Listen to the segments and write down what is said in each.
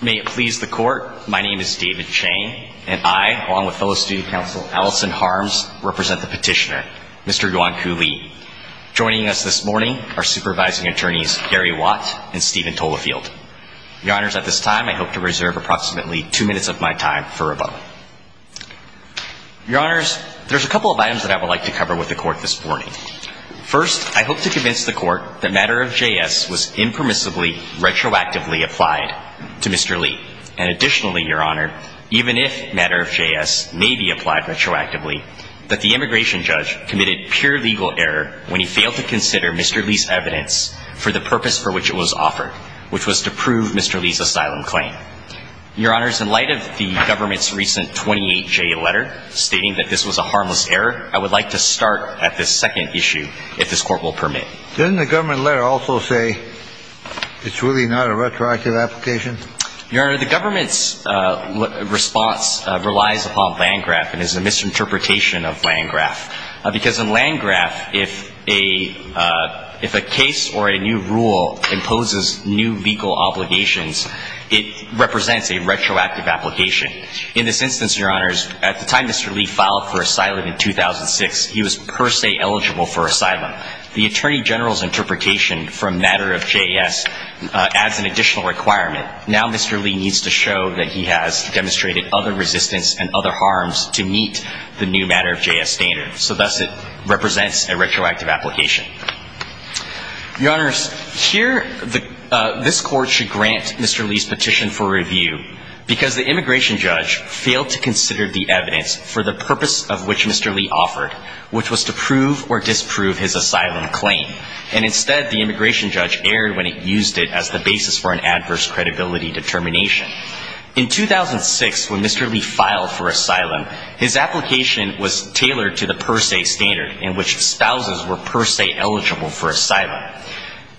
May it please the court, my name is David Chang, and I, along with fellow student counsel Allison Harms, represent the petitioner, Mr. Yuanku Li. Joining us this morning are supervising attorneys Gary Watt and Stephen Tolafield. Your honors, at this time I hope to reserve approximately two minutes of my time for rebuttal. Your honors, there's a couple of items that I would like to cover with the court this morning. First, I hope to convince the court that matter of JS was impermissibly, retroactively applied to Mr. Li. And additionally, your honor, even if matter of JS may be applied retroactively, that the immigration judge committed pure legal error when he failed to consider Mr. Li's evidence for the purpose for which it was offered, which was to prove Mr. Li's asylum claim. Your honors, in light of the government's recent 28J letter stating that this was a harmless error, I would like to start at this second issue, if this court will permit. Doesn't the government letter also say it's really not a retroactive application? Your honor, the government's response relies upon Landgraf and is a misinterpretation of Landgraf. Because in Landgraf, if a case or a new rule imposes new legal obligations, it represents a retroactive application. In this instance, your honors, at the time Mr. General's interpretation from matter of JS adds an additional requirement. Now Mr. Li needs to show that he has demonstrated other resistance and other harms to meet the new matter of JS standard. So thus it represents a retroactive application. Your honors, here this court should grant Mr. Li's petition for review, because the immigration judge failed to consider the evidence for the purpose of which Mr. Li offered, which was to prove or disprove his asylum claim. And instead, the immigration judge erred when it used it as the basis for an adverse credibility determination. In 2006, when Mr. Li filed for asylum, his application was tailored to the per se standard in which spouses were per se eligible for asylum.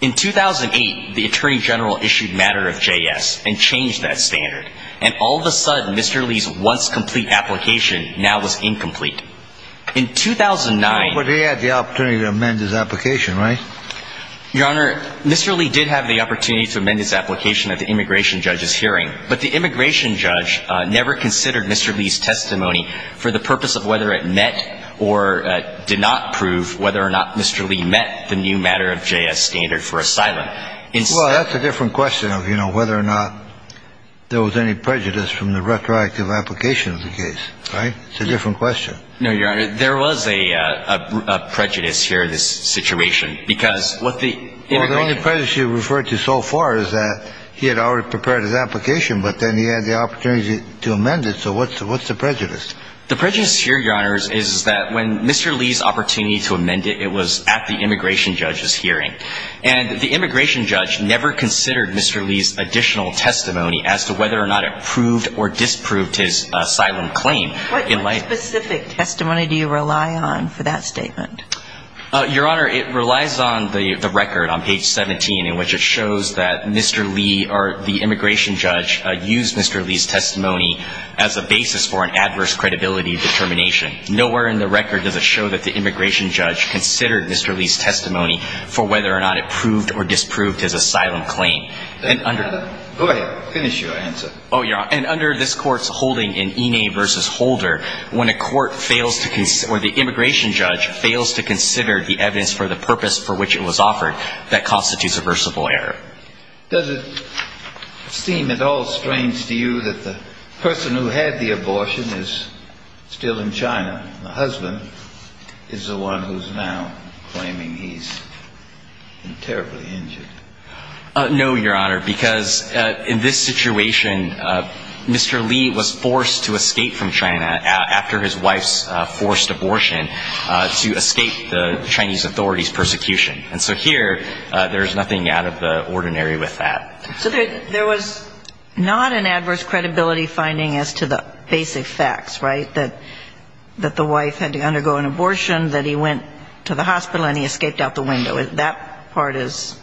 In 2008, the attorney general issued matter of JS and changed that standard. And all of a sudden, Mr. Li's once complete application now was incomplete. In 2009, he had the opportunity to amend his application, right? Your honor, Mr. Li did have the opportunity to amend his application at the immigration judge's hearing. But the immigration judge never considered Mr. Li's testimony for the purpose of whether it met or did not prove whether or not Mr. Li met the new matter of JS standard for asylum. Well, that's a different question of, you know, whether or not there was any prejudice from the retroactive application of the case, right? It's a different question. No, your honor. There was a prejudice here in this situation. Because what the immigrant The only prejudice you referred to so far is that he had already prepared his application, but then he had the opportunity to amend it. So what's the prejudice? The prejudice here, your honor, is that when Mr. Li's opportunity to amend it, it was at the immigration judge's hearing. And the immigration judge never considered Mr. Li's additional testimony as to whether or not it proved or disproved his asylum claim in light What specific testimony do you rely on for that statement? Your honor, it relies on the record on page 17 in which it shows that Mr. Li or the immigration judge used Mr. Li's testimony as a basis for an adverse credibility determination. Nowhere in the record does it show that the immigration judge considered Mr. Li's testimony for whether or not it proved or disproved his asylum claim. Go ahead. Finish your answer. Oh, your honor. And under this court's holding in Enay v. Holder, when a court fails to consider or the immigration judge fails to consider the evidence for the purpose for which it was offered, that constitutes a versatile error. Does it seem at all strange to you that the person who had the abortion is still in China? The husband is the one who's now claiming he's been terribly injured. No, your honor, because in this situation, Mr. Li was forced to escape from China after his wife's forced abortion to escape the Chinese authorities' persecution. And so here, there's nothing out of the ordinary with that. So there was not an adverse credibility finding as to the basic facts, right? That the wife had to undergo an abortion, that he went to the hospital and he escaped out the window. That part is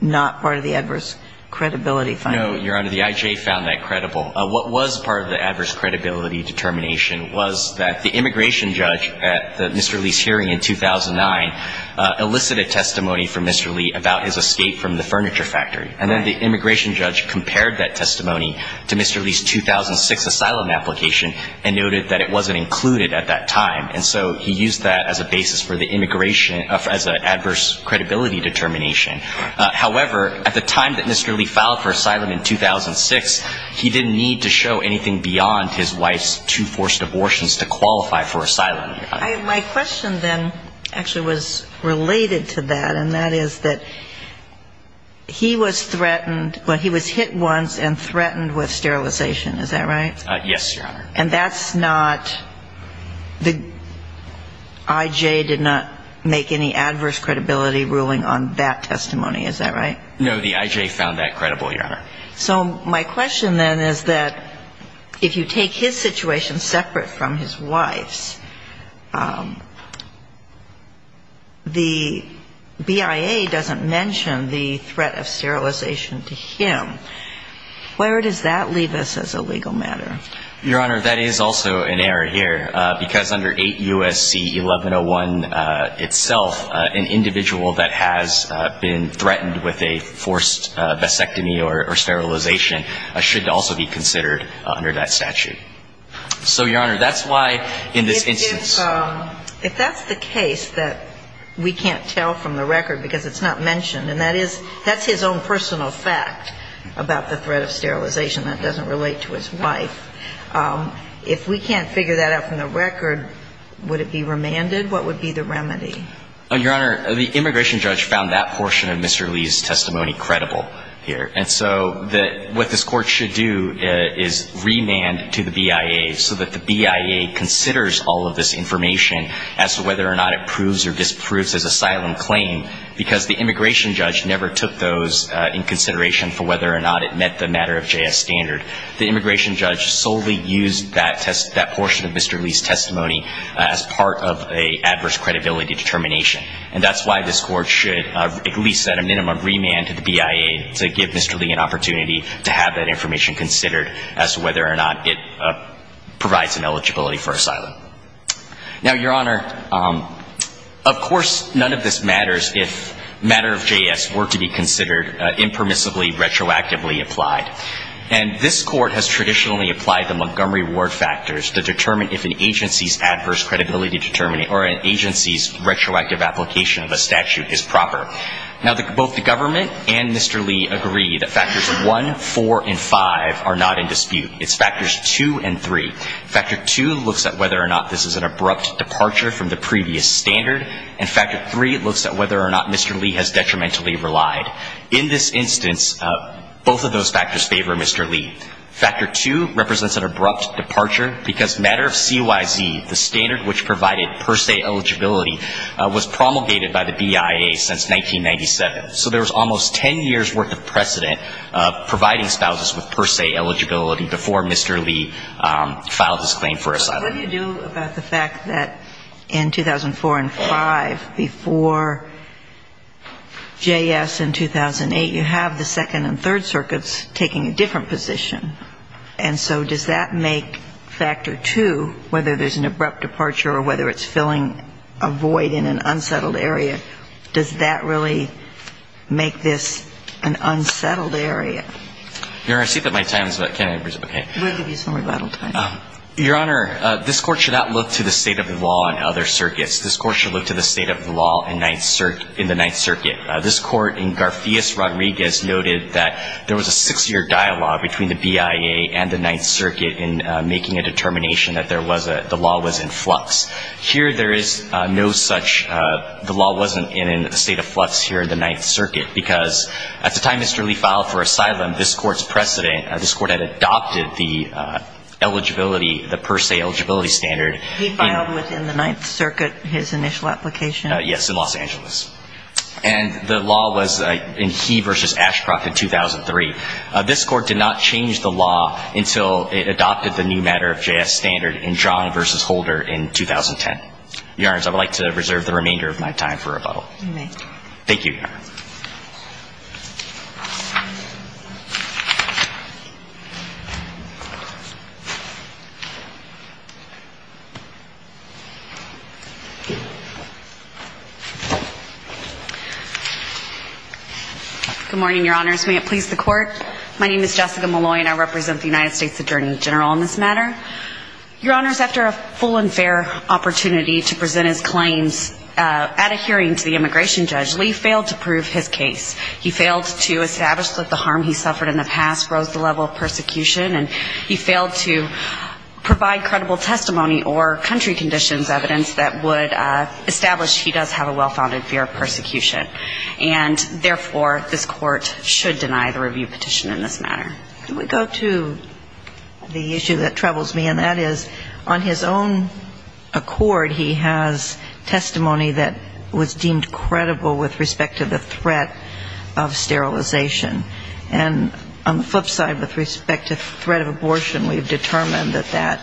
not part of the adverse credibility finding. No, your honor. The I.J. found that credible. What was part of the adverse credibility determination was that the immigration judge at Mr. Li's hearing in 2009 elicited testimony from Mr. Li about his escape from the furniture factory. And then the immigration judge compared that testimony to Mr. Li's 2006 asylum application and noted that it wasn't included at that time. And so he used that as a basis for the immigration as an adverse credibility determination. However, at the time that Mr. Li filed for asylum in 2006, he didn't need to show anything beyond his wife's two forced abortions to qualify for asylum. My question then actually was related to that, and that is that he was threatened, well, he was hit once and threatened with sterilization. Is that right? Yes, your honor. And that's not, the I.J. did not make any adverse credibility ruling on that testimony, is that right? No, the I.J. found that credible, your honor. So my question then is that if you take his situation separate from his wife's, the BIA doesn't mention the threat of sterilization to him. Where does that leave us as a legal matter? Your honor, that is also an error here, because under 8 U.S.C. 1101 itself, an individual that has been threatened with a forced vasectomy or sterilization should also be considered under that statute. So your honor, that's why in this instance If that's the case that we can't tell from the record because it's not mentioned, and that is, that's his own personal fact about the threat of sterilization that doesn't relate to his wife, if we can't figure that out from the record, would it be remanded? What would be the remedy? Your honor, the immigration judge found that portion of Mr. Lee's testimony credible here. And so what this Court should do is remand to the BIA so that the BIA considers all of this information as to whether or not it proves or disproves his asylum claim, because the immigration judge never took those in consideration for whether or not it met the matter of J.S. standard. The immigration judge solely used that portion of Mr. Lee's testimony as part of an adverse credibility determination. And that's why this Court should at least at a minimum remand to the BIA to give Mr. Lee an opportunity to have that information considered as to whether or not it provides an eligibility for asylum. Now your honor, of course none of this matters if matter of J.S. were to be considered impermissibly retroactively applied. And this Court has traditionally applied the Montgomery Ward factors to determine if an agency's adverse credibility determination, or an agency's retroactive application of a statute is proper. Now both the government and Mr. Lee agree that factors 1, 4, and 5 are not in dispute. It's factors 2 and 3. Factor 2 looks at whether or not this is an abrupt departure from the previous standard. And factor 3 looks at whether or not Mr. Lee has detrimentally relied. In this instance, both of those factors favor Mr. Lee. Factor 2 represents an abrupt departure because matter of CYZ, the standard which provided per se eligibility, was promulgated by the BIA since 1997. So there was almost 10 years worth of precedent of providing spouses with per se eligibility before Mr. Lee filed his claim for asylum. But what do you do about the fact that in 2004 and 5, before J.S. in 2008, you have the Second and Third Circuits taking a different position. And so does that make factor 2, whether there's an abrupt departure or whether it's filling a void in an unsettled area, does that really make this an unsettled area? Your Honor, I see that my time is up. Can I reciprocate? We'll give you some rebuttal time. Your Honor, this Court should not look to the state of the law in other circuits. This Court should look to the state of the law in the Ninth Circuit. This Court in Garfias Rodriguez noted that there was a six-year dialogue between the BIA and the Ninth Circuit in making a determination that the law was in flux. Here there is no such, the law wasn't in a state of flux here in the Ninth Circuit because at the time Mr. Lee filed for asylum, this Court's precedent, this Court had adopted the eligibility, the per se eligibility standard. He filed within the Ninth Circuit his initial application? Yes, in Los Angeles. And the law was in He v. Ashcroft in 2003. This Court did not change the law until it adopted the new matter of J.S. standard in John v. Holder in 2010. Your Honor, I would like to reserve the remainder of my time for rebuttal. You may. Thank you, Your Honor. Good morning, Your Honors. May it please the Court? My name is Jessica Malloy and I represent the United States Attorney General on this matter. Your Honors, after a full and fair opportunity to present his claims at a hearing to the immigration judge, Lee failed to prove his case. He failed to establish that the harm he suffered in the past rose the level of persecution, and he failed to provide credible testimony or country conditions evidence that would establish he does have a well-founded fear of persecution. And therefore, this Court should deny the review petition in this matter. Can we go to the issue that troubles me, and that is, on his own accord, he has testimony that was deemed credible with respect to the threat of sterilization. And on the flip side, with respect to threat of abortion, we've determined that that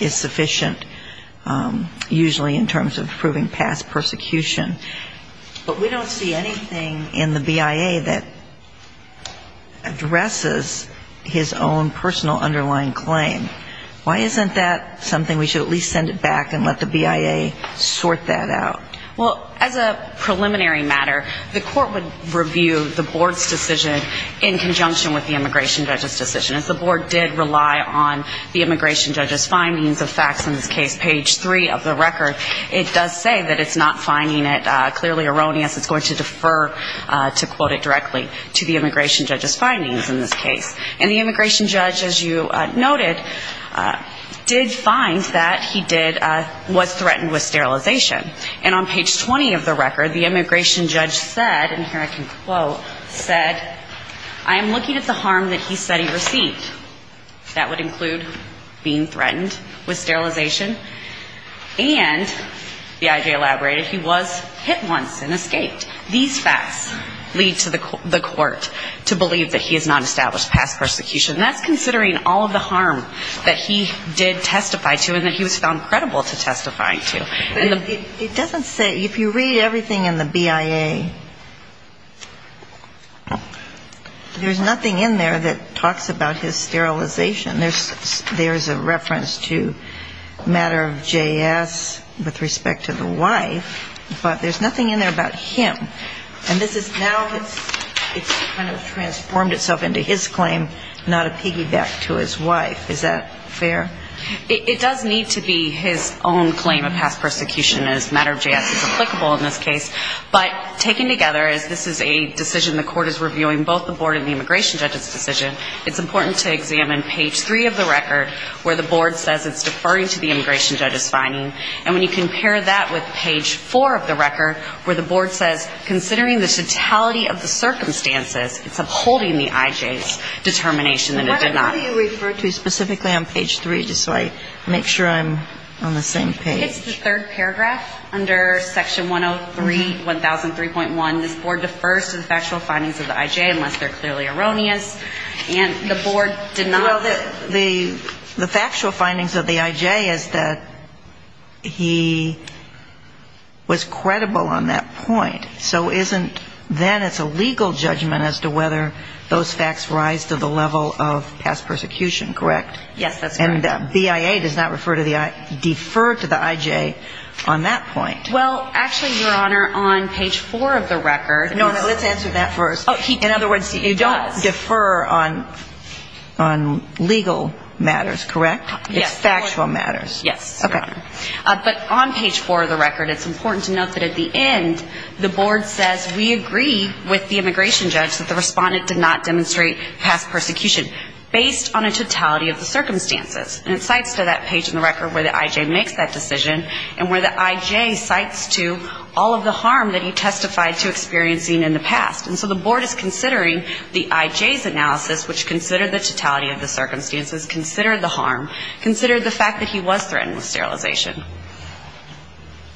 is sufficient, usually in terms of proving past persecution. But we don't see anything in the BIA that addresses his own personal underlying claim. Why isn't that something we should at least send it back and let the BIA sort that out? Well, as a preliminary matter, the Court would review the Board's decision in conjunction with the immigration judge's decision. As the Board did rely on the immigration judge's findings of facts in this case, page 3 of the record, it does say that it's not finding it clearly erroneous. It's going to defer, to quote it directly, to the immigration judge's findings in this case. And the immigration judge, as you noted, did find that he did was threatened with sterilization. And on page 20 of the record, the immigration judge said, and here I can quote, said, I am looking at the harm that he said he received. That would include being threatened with sterilization. And the I.J. elaborated he was hit once and escaped. These facts lead to the Court to believe that he has not established past persecution. And that's considering all of the harm that he did testify to and that he was found credible to testify to. And it doesn't say, if you read everything in the BIA, there's nothing in there that talks about his sterilization. There's a reference to matter of J.S. with respect to the wife, but there's nothing in there that talks about him. And this is now it's kind of transformed itself into his claim, not a piggyback to his wife. Is that fair? It does need to be his own claim of past persecution, as matter of J.S. is applicable in this case. But taken together, as this is a decision the Court is reviewing, both the board and the immigration judge's decision, it's important to examine page three of the record, where the board says it's deferring to the factual findings of the I.J. unless they're clearly erroneous. And the board did not. Well, the factual findings of the I.J. is that he was credible on that point, but he was not credible on that point. So isn't then it's a legal judgment as to whether those facts rise to the level of past persecution, correct? Yes, that's correct. And BIA does not defer to the I.J. on that point. Well, actually, Your Honor, on page four of the record. No, no, let's answer that first. In other words, you don't defer on legal matters, correct? It's factual matters. Yes, Your Honor. But on page four of the record, it's important to note that at the end, the board says we agree with the immigration judge that the respondent did not demonstrate past persecution, based on a totality of the circumstances. And it cites to that page in the record where the I.J. makes that decision, and where the I.J. cites to all of the harm that he testified to experiencing in the past. And so the board is considering the I.J.'s analysis, which was not threatened with sterilization.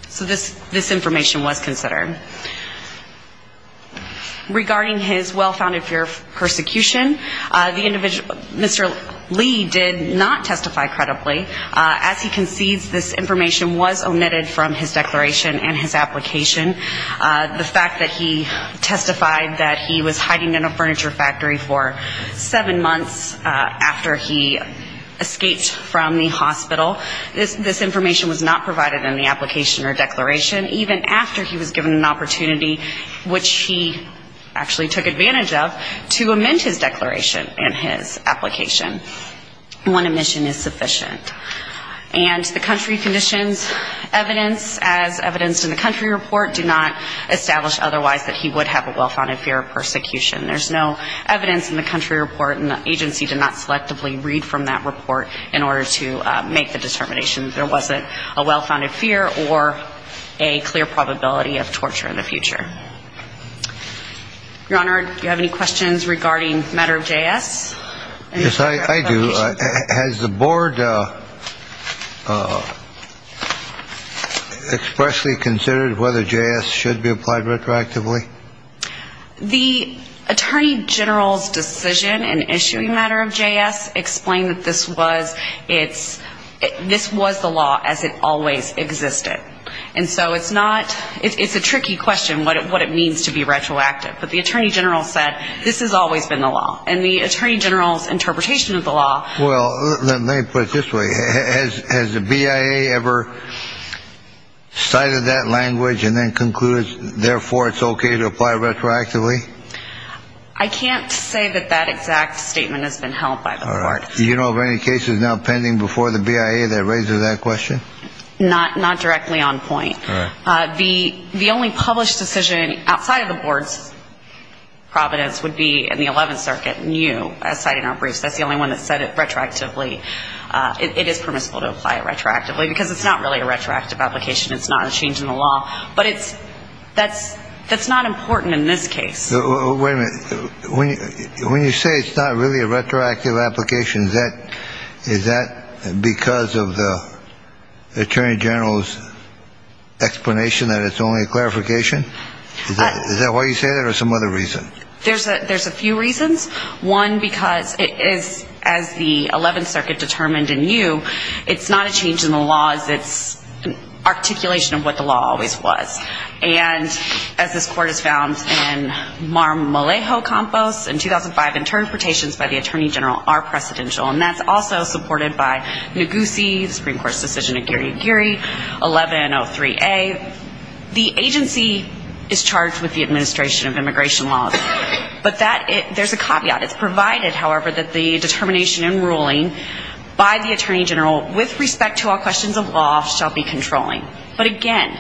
So this information was considered. Regarding his well-founded fear of persecution, Mr. Lee did not testify credibly. As he concedes, this information was omitted from his declaration and his application. The fact that he testified that he was hiding in a furniture factory for seven months after he escaped from the hospital, this information was not provided in the application or declaration, even after he was given an opportunity, which he actually took advantage of, to amend his declaration and his application. One omission is sufficient. And the country conditions evidence, as evidenced in the country report, do not establish otherwise that he would have a well-founded fear of persecution. There's no evidence in the country report, and the agency did not selectively read from that report in order to make the determination that there wasn't a well-founded fear or a clear probability of torture in the future. Your Honor, do you have any questions regarding matter of J.S.? Yes, I do. Has the board expressly considered whether J.S. should be applied retroactively? The attorney general's decision in issuing matter of J.S. explained that this was the law as it always existed. And so it's not ‑‑ it's a tricky question what it means to be retroactive. But the attorney general said this has always been the law. And the attorney general's interpretation of the law ‑‑ Well, let me put it this way. Has the BIA ever cited that language and then concluded, therefore, it's okay to apply retroactively? I can't say that that exact statement has been held by the board. All right. Do you know of any cases now pending before the BIA that raises that question? Not directly on point. The only published decision outside of the board's providence would be in the 11th Circuit, new, citing our briefs. That's the only one that said it retroactively. It is permissible to apply it retroactively, because it's not really a retroactive application. It's not a change in the law. But it's ‑‑ that's not important in this case. Wait a minute. When you say it's not really a retroactive application, is that because of the attorney general's explanation that it's only a clarification? Is that why you say that or some other reason? There's a few reasons. One, because it is, as the 11th Circuit determined in new, it's not a change in the law. It's an articulation of what the law always was. And as this court has found in Marmolejo Campos in 2005, interpretations by the attorney general are precedential. And that's also supported by Neguse, the Supreme Court's decision in Giri Giri, 1103A. The agency is charged with the administration of immigration laws. But that ‑‑ there's a caveat. It's provided, however, that the determination in ruling by the attorney general with respect to all questions of law shall be controlling. But again,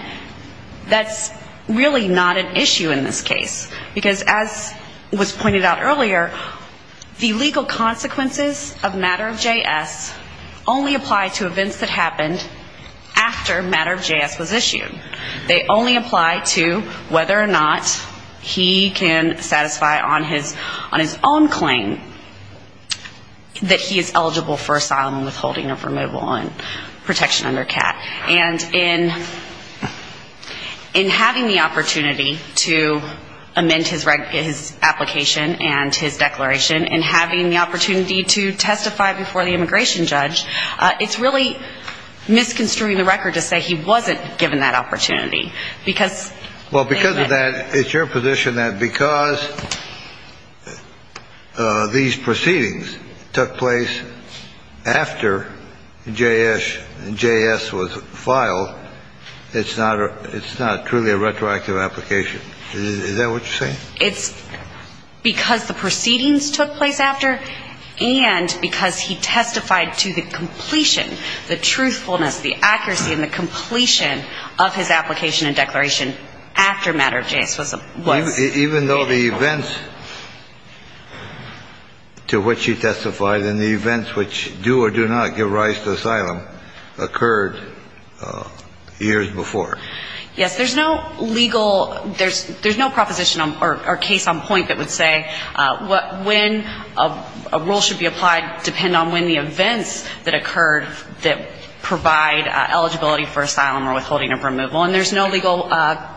that's really not an issue in this case. Because as was pointed out earlier, the legal consequences of matter of JS only apply to events that happened after matter of JS was issued. They only apply to whether or not he can satisfy on his own claim that he is eligible for asylum and withholding of removal and protection under CAT. And in having the opportunity to amend his application and his declaration, and having the opportunity to testify before the immigration judge, it's really misconstruing the record to say he wasn't given that opportunity. Because ‑‑ Well, because of that, it's your position that because these proceedings took place after JS was on the record, it's not ‑‑ it's not truly a retroactive application. Is that what you're saying? It's because the proceedings took place after and because he testified to the completion, the truthfulness, the accuracy, and the completion of his application and declaration after matter of JS was ‑‑ Even though the events to which he testified and the events which do or do not give rise to asylum occurred after matter of JS, the years before. Yes. There's no legal ‑‑ there's no proposition or case on point that would say when a rule should be applied depend on when the events that occurred that provide eligibility for asylum or withholding of removal. And there's no legal ‑‑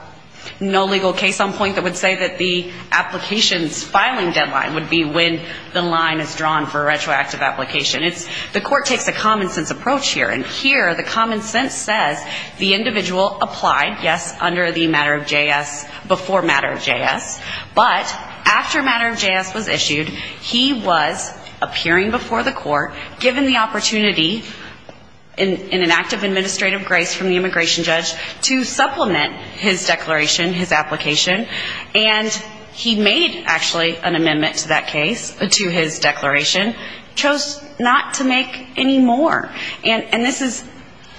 no legal case on point that would say that the application's filing deadline would be when the line is drawn for a retroactive application. It's ‑‑ the court takes a common sense approach here. And here the common sense says the individual applied, yes, under the matter of JS, before matter of JS, but after matter of JS was issued, he was appearing before the court, given the opportunity in an act of administrative grace from the immigration judge to supplement his declaration, his application, and he made actually an amendment to that case, to his declaration, chose not to make any more. And this is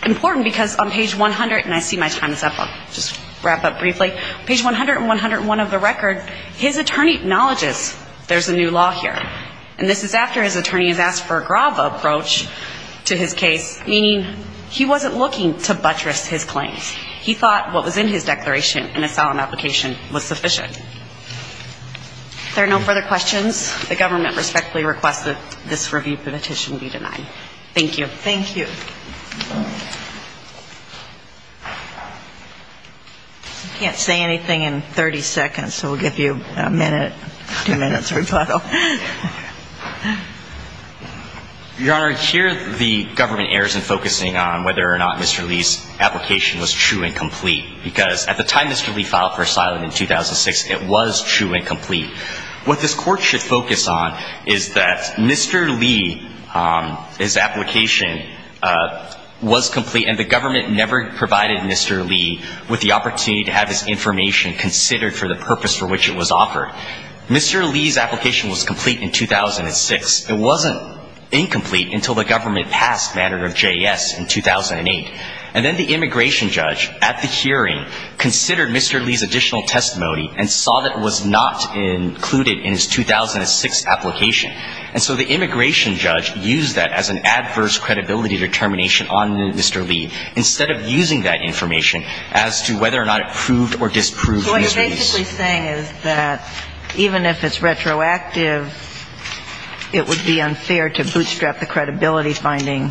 important because on page 100, and I see my time is up, I'll just wrap up briefly, page 100 and 101 of the record, his attorney acknowledges there's a new law here. And this is after his attorney has asked for a grav approach to his case, meaning he wasn't looking to buttress his claims. He thought what was in his declaration in asylum application was true, and he was able to get the claim. He thought what was in his declaration was true, and he was able to get the claim. Thank you. If there are no further questions, the government respectfully requests that this review petition be denied. Thank you. Thank you. I can't say anything in 30 seconds, so we'll give you a minute, two minutes rebuttal. What this court should focus on is that Mr. Lee, his application was complete, and the government never provided Mr. Lee with the opportunity to have his information considered for the purpose for which it was offered. Mr. Lee's application was complete in 2006. It wasn't incomplete until the government passed matter of JS in 2008. And then the immigration judge at the time, Mr. Lee, was not aware that the immigration judge had included in his 2006 application. And so the immigration judge used that as an adverse credibility determination on Mr. Lee instead of using that information as to whether or not it proved or disproved Mr. Lee's case. What you're basically saying is that even if it's retroactive, it would be unfair to bootstrap the credibility finding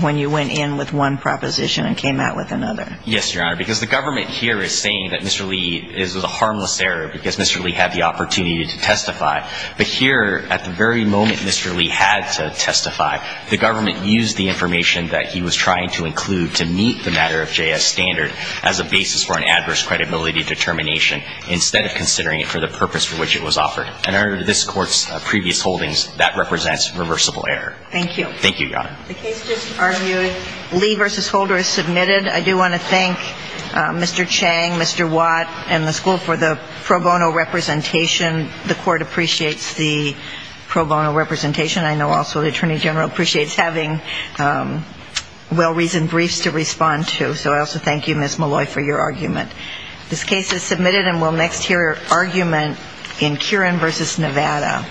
when you went in with one proposition and came out with another? Yes, Your Honor, because the government here is saying that Mr. Lee is a harmless error because Mr. Lee had the opportunity to testify. But here at the very moment Mr. Lee had to testify, the government used the information that he was trying to include to meet the matter of JS standard as a basis for an adverse credibility determination instead of considering it for the purpose for which it was offered. And under this court's previous holdings, that represents reversible error. Thank you. The case just argued. Lee v. Holder is submitted. I do want to thank Mr. Chang, Mr. Watt, and the school for the pro bono representation. The court appreciates the pro bono representation. I know also the Attorney General appreciates having well-reasoned briefs to respond to. So I also thank you, Ms. Malloy, for your argument. This case is submitted and we'll next hear argument in Kieran v. Nevada.